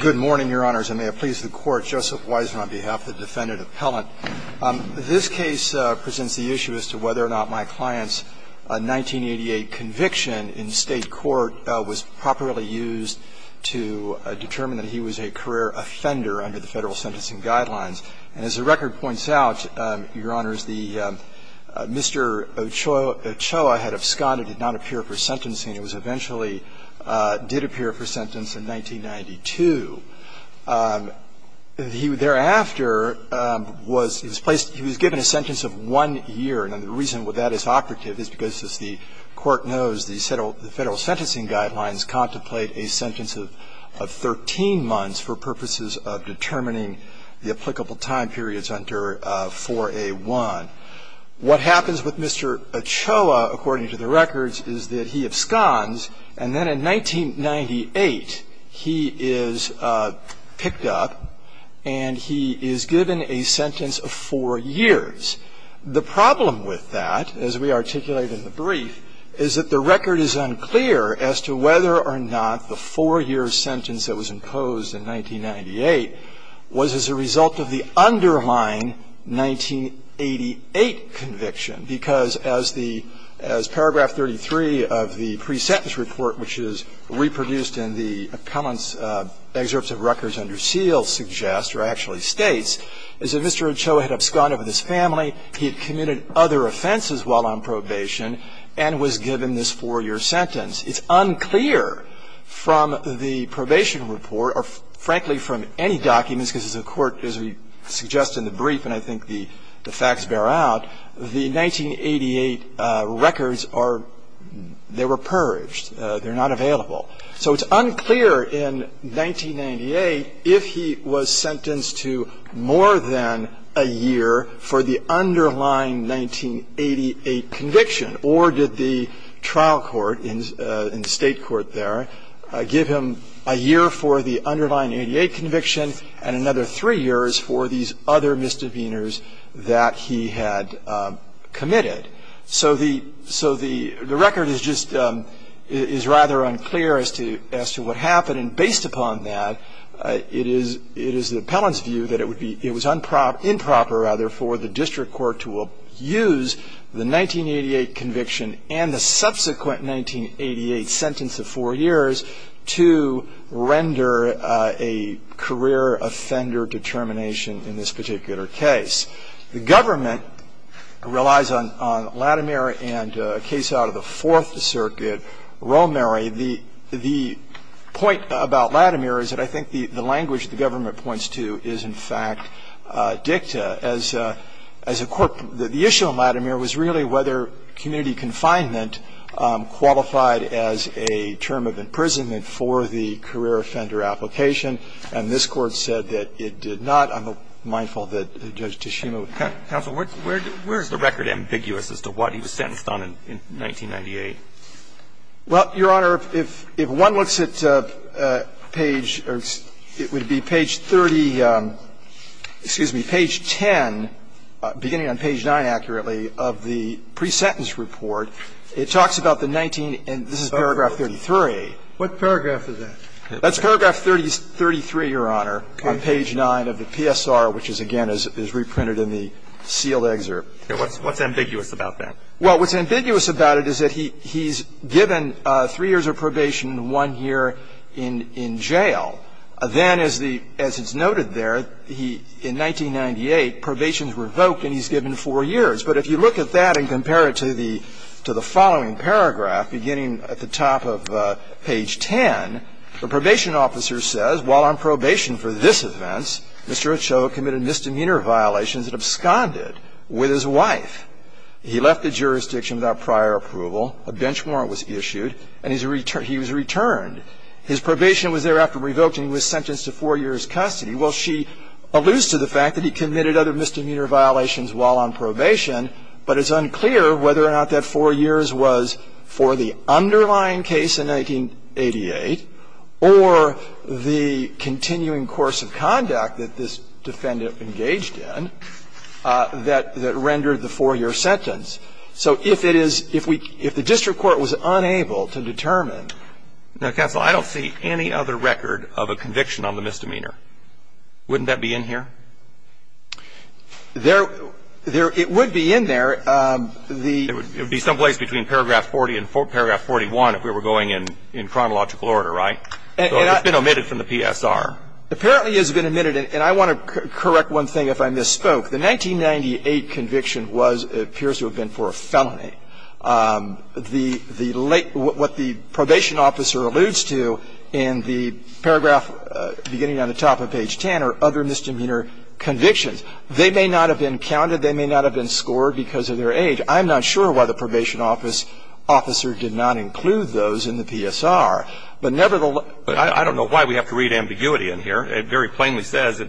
Good morning, Your Honors. I may have pleased the Court. Joseph Weisner on behalf of the Defendant Appellant. This case presents the issue as to whether or not my client's 1988 conviction in State court was properly used to determine that he was a career offender under the Federal sentencing guidelines. And as the record points out, Your Honors, the Mr. Ochoa had absconded and did not appear for sentencing. It was eventually – did appear for sentence in 1992. He thereafter was – he was placed – he was given a sentence of one year. And the reason that is operative is because, as the Court knows, the Federal sentencing guidelines contemplate a sentence of 13 months for purposes of determining the applicable time periods under 4A1. What happens with Mr. Ochoa, according to the records, is that he absconds, and then in 1998, he is picked up and he is given a sentence of four years. The problem with that, as we articulate in the brief, is that the record is unclear as to whether or not the four-year sentence that was imposed in 1998 was as a result of the underlying 1988 conviction. Because as the – as paragraph 33 of the pre-sentence report, which is reproduced in the comments – excerpts of records under seal suggest, or actually states, is that Mr. Ochoa had absconded with his family, he had committed other offenses while on probation, and was given this four-year sentence. It's unclear from the probation report or, frankly, from any documents, because as the Court, as we suggest in the brief, and I think the facts bear out, the 1988 records are – they were purged. They're not available. So it's unclear in 1998 if he was sentenced to more than a year for the underlying 1988 conviction, or did the trial court in the State court for the underlying 1988 conviction, and another three years for these other misdemeanors that he had committed. So the – so the record is just – is rather unclear as to – as to what happened. And based upon that, it is – it is the appellant's view that it would be – it was improper, rather, for the district court to use the 1988 conviction and the subsequent 1988 sentence of four years to render a career offender determination in this particular case. The government relies on – on Latimer and a case out of the Fourth Circuit, Romary. The point about Latimer is that I think the language the government points to is, in fact, a different dicta as a – as a court. The issue on Latimer was really whether community confinement qualified as a term of imprisonment for the career offender application, and this Court said that it did not. I'm mindful that Judge Tshishima would comment. Counsel, where is the record ambiguous as to what he was sentenced on in 1998? Well, Your Honor, if – if one looks at page – or it would be page 30 of the statute – excuse me, page 10, beginning on page 9, accurately, of the pre-sentence report, it talks about the 19 – and this is paragraph 33. What paragraph is that? That's paragraph 33, Your Honor, on page 9 of the PSR, which is, again, is reprinted in the sealed excerpt. What's ambiguous about that? Well, what's ambiguous about it is that he's given three years of probation and one year in – in jail. Then, as the – as it's noted there, he – in 1998, probation's revoked and he's given four years. But if you look at that and compare it to the – to the following paragraph, beginning at the top of page 10, the probation officer says, while on probation for this offense, Mr. Ochoa committed misdemeanor violations and absconded with his wife. He left the jurisdiction without prior approval, a bench warrant was issued, and his – he was returned. His probation was thereafter revoked and he was sentenced to four years' custody. Well, she alludes to the fact that he committed other misdemeanor violations while on probation, but it's unclear whether or not that four years was for the underlying case in 1988 or the continuing course of conduct that this defendant engaged in that – that rendered the four-year sentence. So if it is – if we – if the district court was unable to determine – Now, counsel, I don't see any other record of a conviction on the misdemeanor. Wouldn't that be in here? There – there – it would be in there. The – It would be someplace between paragraph 40 and paragraph 41 if we were going in – in chronological order, right? So it's been omitted from the PSR. Apparently it's been omitted, and I want to correct one thing if I misspoke. The 1998 conviction was – appears to have been for a felony. The – the late – what the probation officer alludes to in the paragraph beginning on the top of page 10 are other misdemeanor convictions. They may not have been counted. They may not have been scored because of their age. I'm not sure why the probation officer did not include those in the PSR. But nevertheless – I don't know why we have to read ambiguity in here. It very plainly says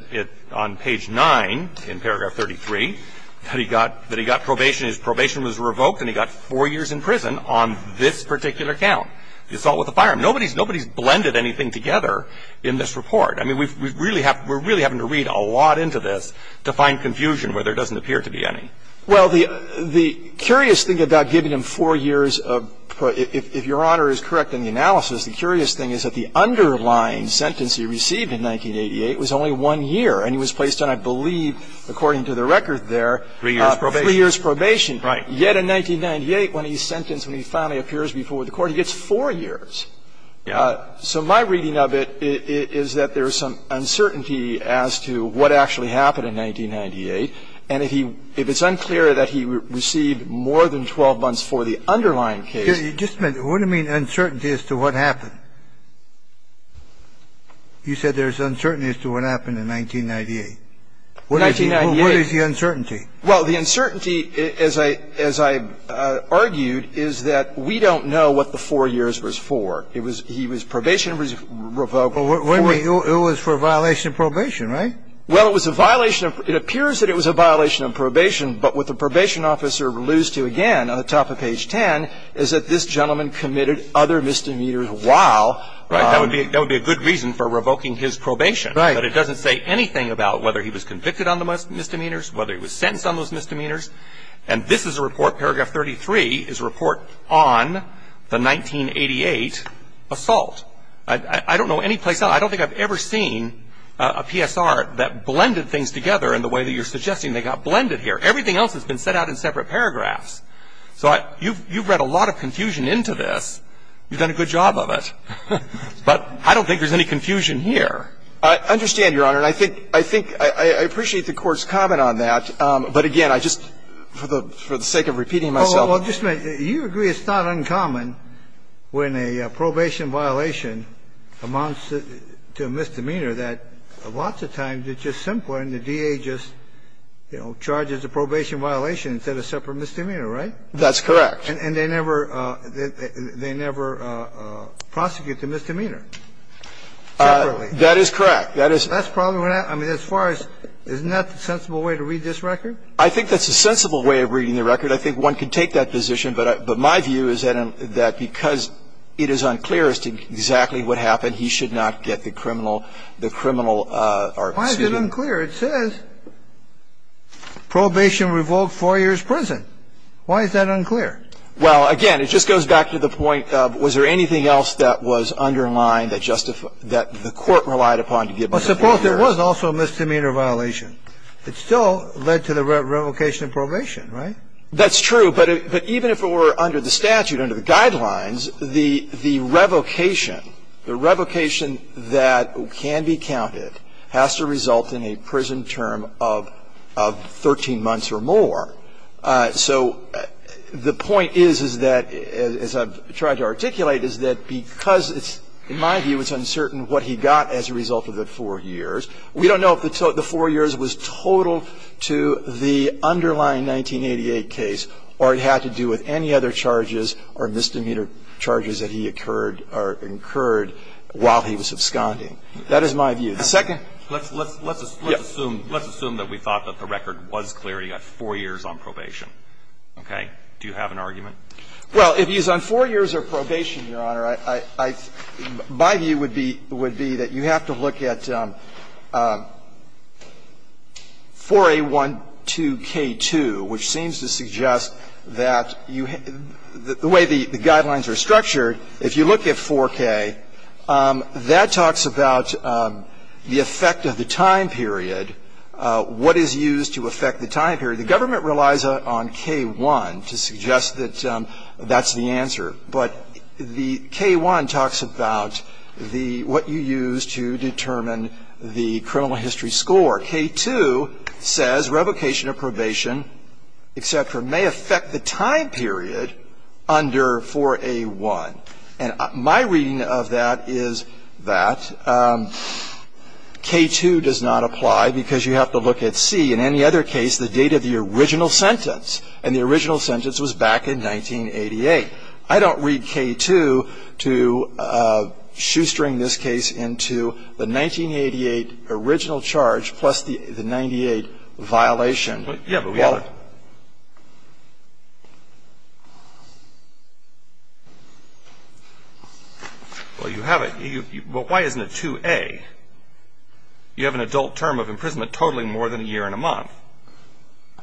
on page 9 in the report that he got – that he got probation, his probation was revoked, and he got 4 years in prison on this particular count, the assault with a firearm. Nobody's – nobody's blended anything together in this report. I mean, we really have – we're really having to read a lot into this to find confusion where there doesn't appear to be any. Well, the – the curious thing about giving him 4 years of – if Your Honor is correct in the analysis, the curious thing is that the underlying sentence he received in 1988 was only 1 year, and he was placed on, I believe, according to the record there, 3 years probation. 3 years probation. Right. Yet in 1998, when he's sentenced, when he finally appears before the court, he gets 4 years. So my reading of it is that there is some uncertainty as to what actually happened in 1998. And if he – if it's unclear that he received more than 12 months for the underlying case – Just a minute. What do you mean uncertainty as to what happened? You said there is uncertainty as to what happened in 1998. In 1998. What is the uncertainty? Well, the uncertainty, as I – as I argued, is that we don't know what the 4 years was for. It was – he was probationary revoked for – Well, it was for violation of probation, right? Well, it was a violation of – it appears that it was a violation of probation. But what the probation officer alludes to again on the top of page 10 is that this gentleman committed other misdemeanors while – Right. That would be – that would be a good reason for revoking his probation. Right. But it doesn't say anything about whether he was convicted on the misdemeanors, whether he was sentenced on those misdemeanors. And this is a report, paragraph 33, is a report on the 1988 assault. I don't know any place – I don't think I've ever seen a PSR that blended things together in the way that you're suggesting they got blended here. Everything else has been set out in separate paragraphs. So I – you've read a lot of But I don't think there's any confusion here. I understand, Your Honor. And I think – I think – I appreciate the Court's comment on that. But again, I just – for the sake of repeating myself. Well, just a minute. You agree it's not uncommon when a probation violation amounts to a misdemeanor that lots of times it's just simpler and the DA just, you know, charges a probation violation instead of a separate misdemeanor, right? That's correct. And they never – they never prosecute the misdemeanor separately. That is correct. That is – That's probably what I – I mean, as far as – isn't that the sensible way to read this record? I think that's a sensible way of reading the record. I think one could take that position, but I – but my view is that because it is unclear as to exactly what happened, he should not get the criminal – the criminal – or, excuse me. Why is it unclear? It says probation revoked four years' prison. Why is that unclear? Well, again, it just goes back to the point of was there anything else that was underlined that justified – that the Court relied upon to give us a clear – But suppose there was also a misdemeanor violation. It still led to the revocation of probation, right? That's true. But even if it were under the statute, under the guidelines, the – the revocation, the revocation that can be counted has to result in a prison term of – of 13 months or more. So the point is, is that – as I've tried to articulate, is that because it's – in my view, it's uncertain what he got as a result of the four years. We don't know if the four years was total to the underlying 1988 case or it had to do with any other charges or misdemeanor charges that he occurred – or incurred while he was absconding. That is my view. The second – Yes. I'm not sure if that was clear. You got four years on probation. Okay? Do you have an argument? Well, if he's on four years of probation, Your Honor, I – my view would be – would be that you have to look at 4A12K2, which seems to suggest that you – the way the guidelines are structured, if you look at 4K, that talks about the effect of the time period, what is used to affect the effect of the time period, and what is used to affect the time period. The government relies on K1 to suggest that that's the answer, but the – K1 talks about the – what you use to determine the criminal history score. K2 says revocation of probation, et cetera, may affect the time period under 4A1. And my reading of that is that K2 does not apply because you have to look at C. In any other case, the time period is not used to affect the date of the original sentence, and the original sentence was back in 1988. I don't read K2 to shoestring this case into the 1988 original charge plus the 98 violation. Well, yeah, but we have a – well, you have a – well, why isn't it 2A? You have an adult term of imprisonment totaling more than a year and a month,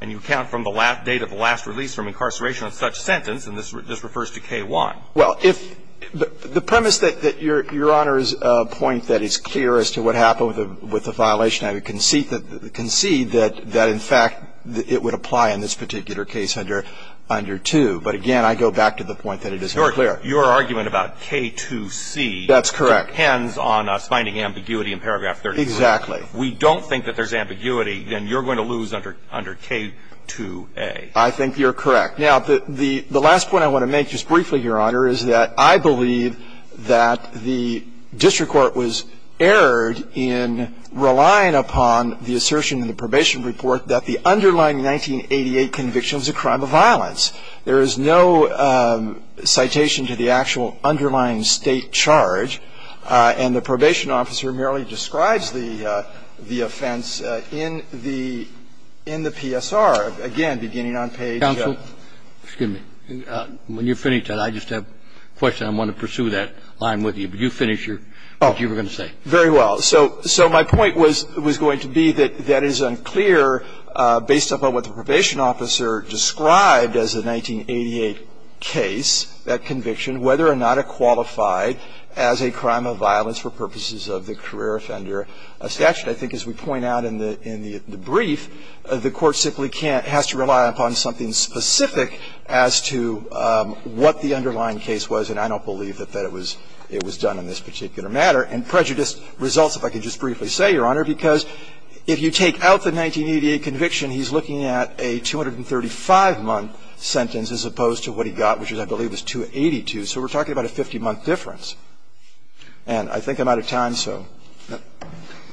and you count from the date of the last release from incarceration of such sentence, and this refers to K1. Well, if – the premise that Your Honor's point that it's clear as to what happened with the violation, I would concede that in fact it would apply in this particular case under 2. But again, I go back to the point that it is not clear. Your argument about K2C depends on us finding ambiguity in paragraph 33. Exactly. If we don't think that there's ambiguity, then you're going to lose under K2A. I think you're correct. Now, the last point I want to make just briefly, Your Honor, is that I believe that the district court was erred in relying upon the assertion in the probation report that the underlying 1988 conviction was a crime of violence. There is no citation to the actual underlying State charge, and the probation officer merely describes the offense in the PSR, again, beginning on page 2. Counsel, excuse me. When you finish that, I just have a question, and I want to pursue that line with you. But you finish what you were going to say. Oh, very well. So my point was going to be that that is unclear based upon what the probation officer described as the 1988 case, that conviction, whether or not it qualified as a crime of violence for purposes of the career offender statute. I think as we point out in the brief, the Court simply can't – has to rely upon something specific as to what the underlying case was, and I don't believe that it was done in this particular matter. And prejudice results, if I could just briefly say, Your Honor, because if you take out the 1988 conviction, he's looking at a 235-month sentence as opposed to what he got, which I believe was 282, so we're talking about a 50-month difference. And I think I'm out of time, so that's it.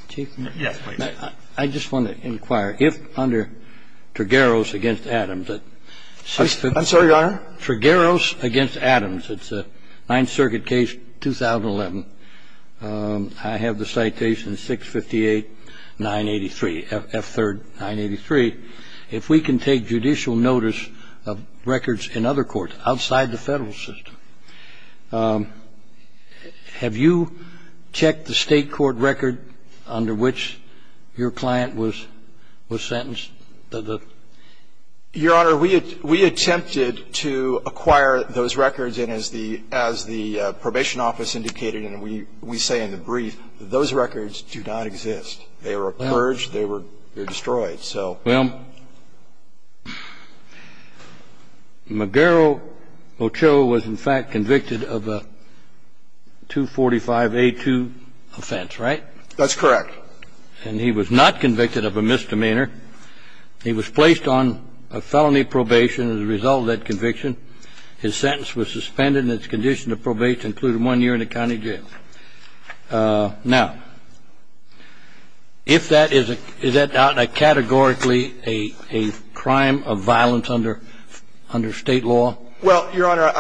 Chief, may I just want to inquire, if under Trigueros v. Adams, that 658 – I'm sorry, Your Honor? Trigueros v. Adams. It's a Ninth Circuit case, 2011. I have the citation 658-983, F3rd 983. If we can take judicial notice of records in other courts, outside the Federal system, have you checked the State court record under which your client was sentenced to the – Your Honor, we attempted to acquire those records, and as the – as the Probation Office indicated, and we say in the brief, those records do not exist. They were purged. They were destroyed. So – Well, McGarrett Ochoa was, in fact, convicted of a 245A2 offense, right? That's correct. And he was not convicted of a misdemeanor. He was placed on a felony probation as a result of that conviction. His sentence was suspended, and his condition to probation included one year in a county jail. Now, if that is a – is that categorically a crime of violence under State law? Well, Your Honor,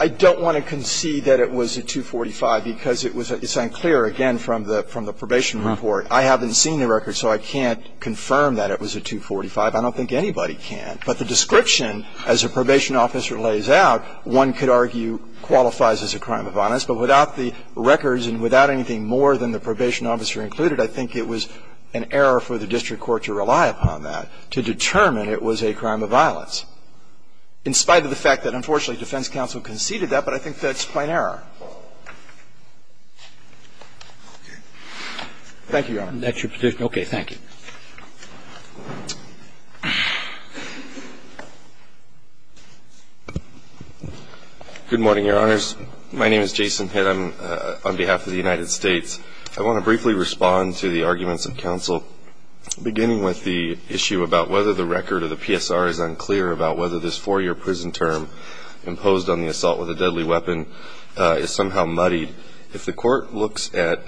I don't want to concede that it was a 245 because it was – it's unclear, again, from the probation report. I haven't seen the record, so I can't confirm that it was a 245. I don't think anybody can. But the description, as a probation officer lays out, one could argue qualifies as a crime of violence. But without the records and without anything more than the probation officer included, I think it was an error for the district court to rely upon that to determine it was a crime of violence, in spite of the fact that, unfortunately, defense counsel conceded that. But I think that's plain error. Thank you, Your Honor. That's your position? Okay. Thank you. Good morning, Your Honors. My name is Jason Pitt. I'm on behalf of the United States. I want to briefly respond to the arguments of counsel, beginning with the issue about whether the record of the PSR is unclear about whether this four-year prison term imposed on the assault with a deadly weapon is somehow muddied. If the court looks at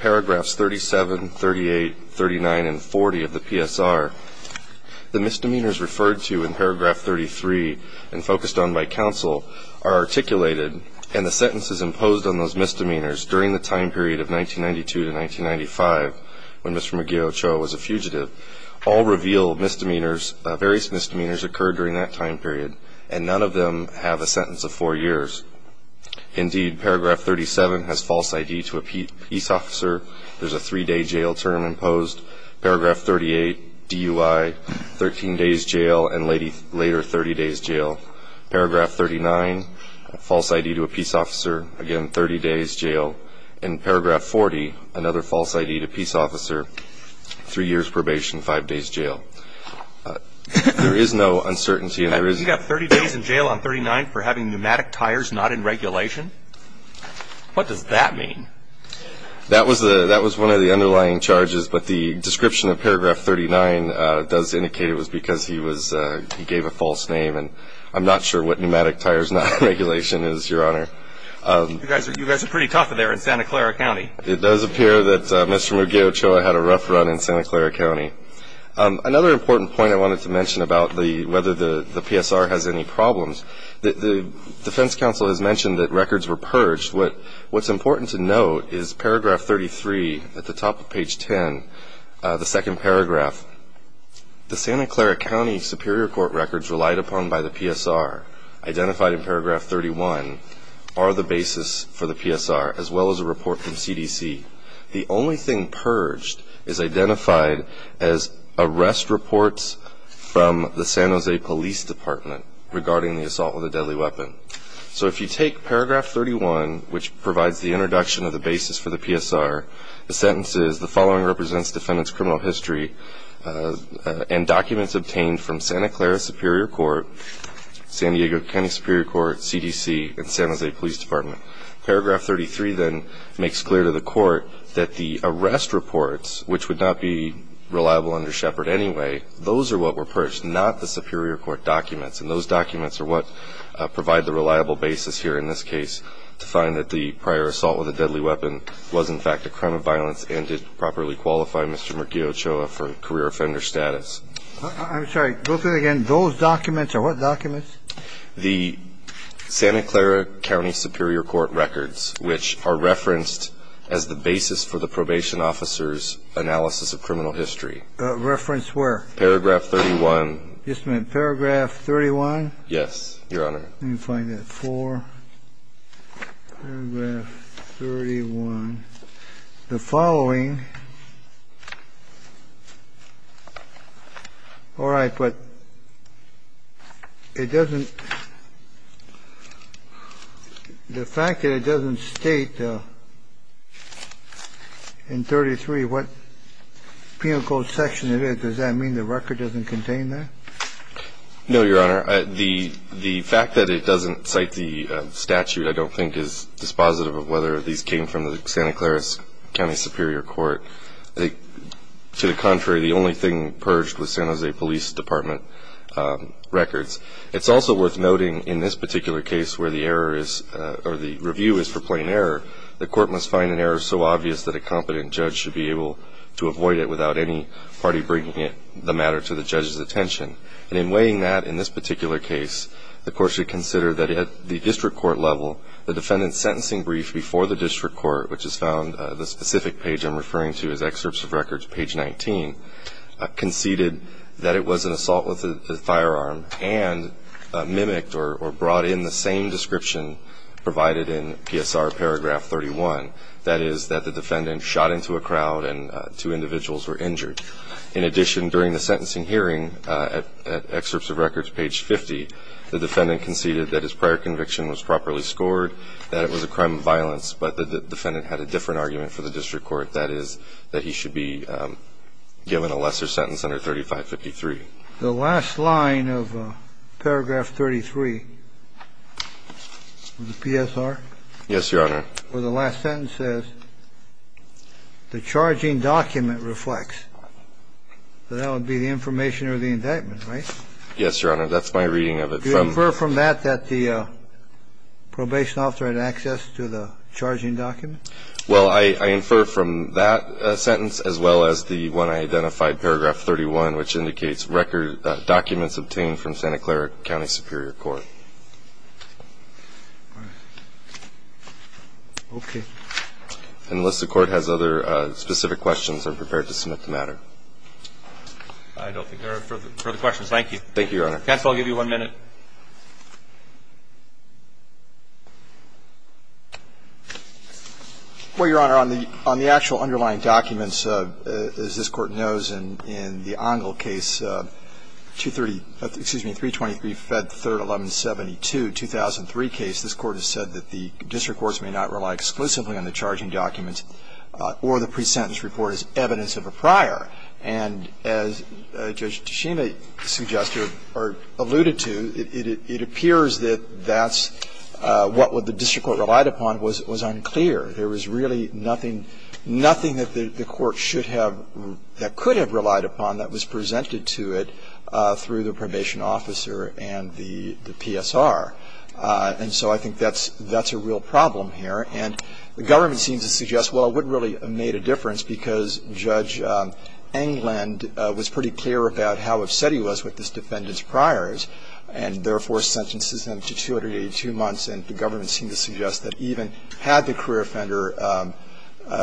paragraphs 37, 38, 39, and 40 of the PSR, the misdemeanors referred to in paragraph 33 and focused on by counsel are articulated, and the sentences imposed on those misdemeanors during the time period of 1992 to 1995, when Mr. McGeochow was a fugitive, all reveal misdemeanors, various misdemeanors occurred during that time period, and none of them have a sentence of four years. Indeed, paragraph 37 has false ID to a peace officer. There's a three-day jail term imposed. Paragraph 38, DUI, 13 days jail, and later, 30 days jail. Paragraph 39, false ID to a peace officer, again, 30 days jail. In paragraph 40, another false ID to peace officer, three years probation, five days jail. There is no uncertainty. And you got 30 days in jail on 39 for having pneumatic tires not in regulation? What does that mean? That was one of the underlying charges, but the description of paragraph 39 does indicate it was because he gave a false name, and I'm not sure what pneumatic tires not in regulation is, your honor. You guys are pretty tough in Santa Clara County. It does appear that Mr. McGeochow had a rough run in Santa Clara County. Another important point I wanted to mention about whether the PSR has any problems, the defense counsel has mentioned that records were purged. What's important to note is paragraph 33 at the top of page 10, the second paragraph. The Santa Clara County Superior Court records relied upon by the PSR, identified in paragraph 31, are the basis for the PSR, as well as a report from CDC. The only thing purged is identified as arrest reports from the San Jose Police Department regarding the assault with a deadly weapon. So if you take paragraph 31, which provides the introduction of the basis for the PSR, the sentences, the following represents defendant's criminal history, and documents obtained from Santa Clara Superior Court, San Diego County Superior Court, CDC, and San Jose Police Department. Paragraph 33 then makes clear to the court that the arrest reports, which would not be reliable under Shepard anyway, those are what were purged, not the Superior Court documents. And those documents are what provide the reliable basis here in this case to find that the prior assault with a deadly weapon was in fact a crime of violence and did properly qualify Mr. McGeochow for career offender status. I'm sorry, go through it again. Those documents are what documents? The Santa Clara County Superior Court records, which are referenced as the basis for the probation officer's analysis of criminal history. Reference where? Paragraph 31. You just meant paragraph 31? Yes, your honor. Let me find it, 4, paragraph 31. The following, all right, but it doesn't, the fact that it doesn't state in 33 what penal code section it is, does that mean the record doesn't contain that? No, your honor, the fact that it doesn't cite the statute, I don't think, is dispositive of whether these came from the Santa Clara County Superior Court. To the contrary, the only thing purged was San Jose Police Department records. It's also worth noting in this particular case where the review is for plain error, the court must find an error so obvious that a competent judge should be able to avoid it without any party bringing the matter to the judge's attention. And in weighing that in this particular case, the court should consider that at the district court level, the defendant's sentencing brief before the district court, which is found, the specific page I'm referring to is excerpts of records, page 19, conceded that it was an assault with a firearm and mimicked or brought in the same description provided in PSR paragraph 31. That is that the defendant shot into a crowd and two individuals were injured. In addition, during the sentencing hearing at excerpts of records page 50, the defendant conceded that his prior conviction was properly scored, that it was a crime of violence, but the defendant had a different argument for the district court, that is that he should be given a lesser sentence under 3553. The last line of paragraph 33 of the PSR. Yes, Your Honor. Where the last sentence says, the charging document reflects. That would be the information or the indictment, right? Yes, Your Honor, that's my reading of it. Do you infer from that that the probation officer had access to the charging document? Well, I infer from that sentence as well as the one I identified, paragraph 31, which indicates documents obtained from Santa Clara County Superior Court. Okay. Unless the court has other specific questions, I'm prepared to submit the matter. I don't think there are further questions. Thank you. Thank you, Your Honor. Counsel, I'll give you one minute. Well, Your Honor, on the actual underlying documents, as this Court knows, in the Ongle case, 230, excuse me, 323, Fed 3rd, 1172, 2003 case, this Court has said that the district courts may not rely exclusively on the charging documents or the pre-sentence report as evidence of a prior. And as Judge Toshima suggested or alluded to, it appears that that's what the district court relied upon was unclear. There was really nothing that the court should have or that could have relied upon that was presented to it through the probation officer and the PSR. And so I think that's a real problem here. And the government seems to suggest, well, it wouldn't really have made a difference because Judge Englund was pretty clear about how upset he was with this defendant's priors and therefore sentences him to 282 months. And the government seems to suggest that even had the career offender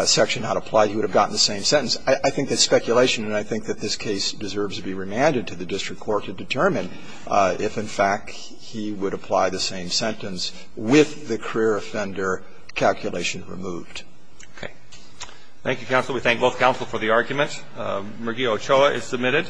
section not applied, he would have gotten the same sentence. I think that's speculation, and I think that this case deserves to be remanded to the district court to determine if, in fact, he would apply the same sentence with the career offender calculation removed. Okay. Thank you, counsel. We thank both counsel for the argument. Murgy Ochoa is submitted.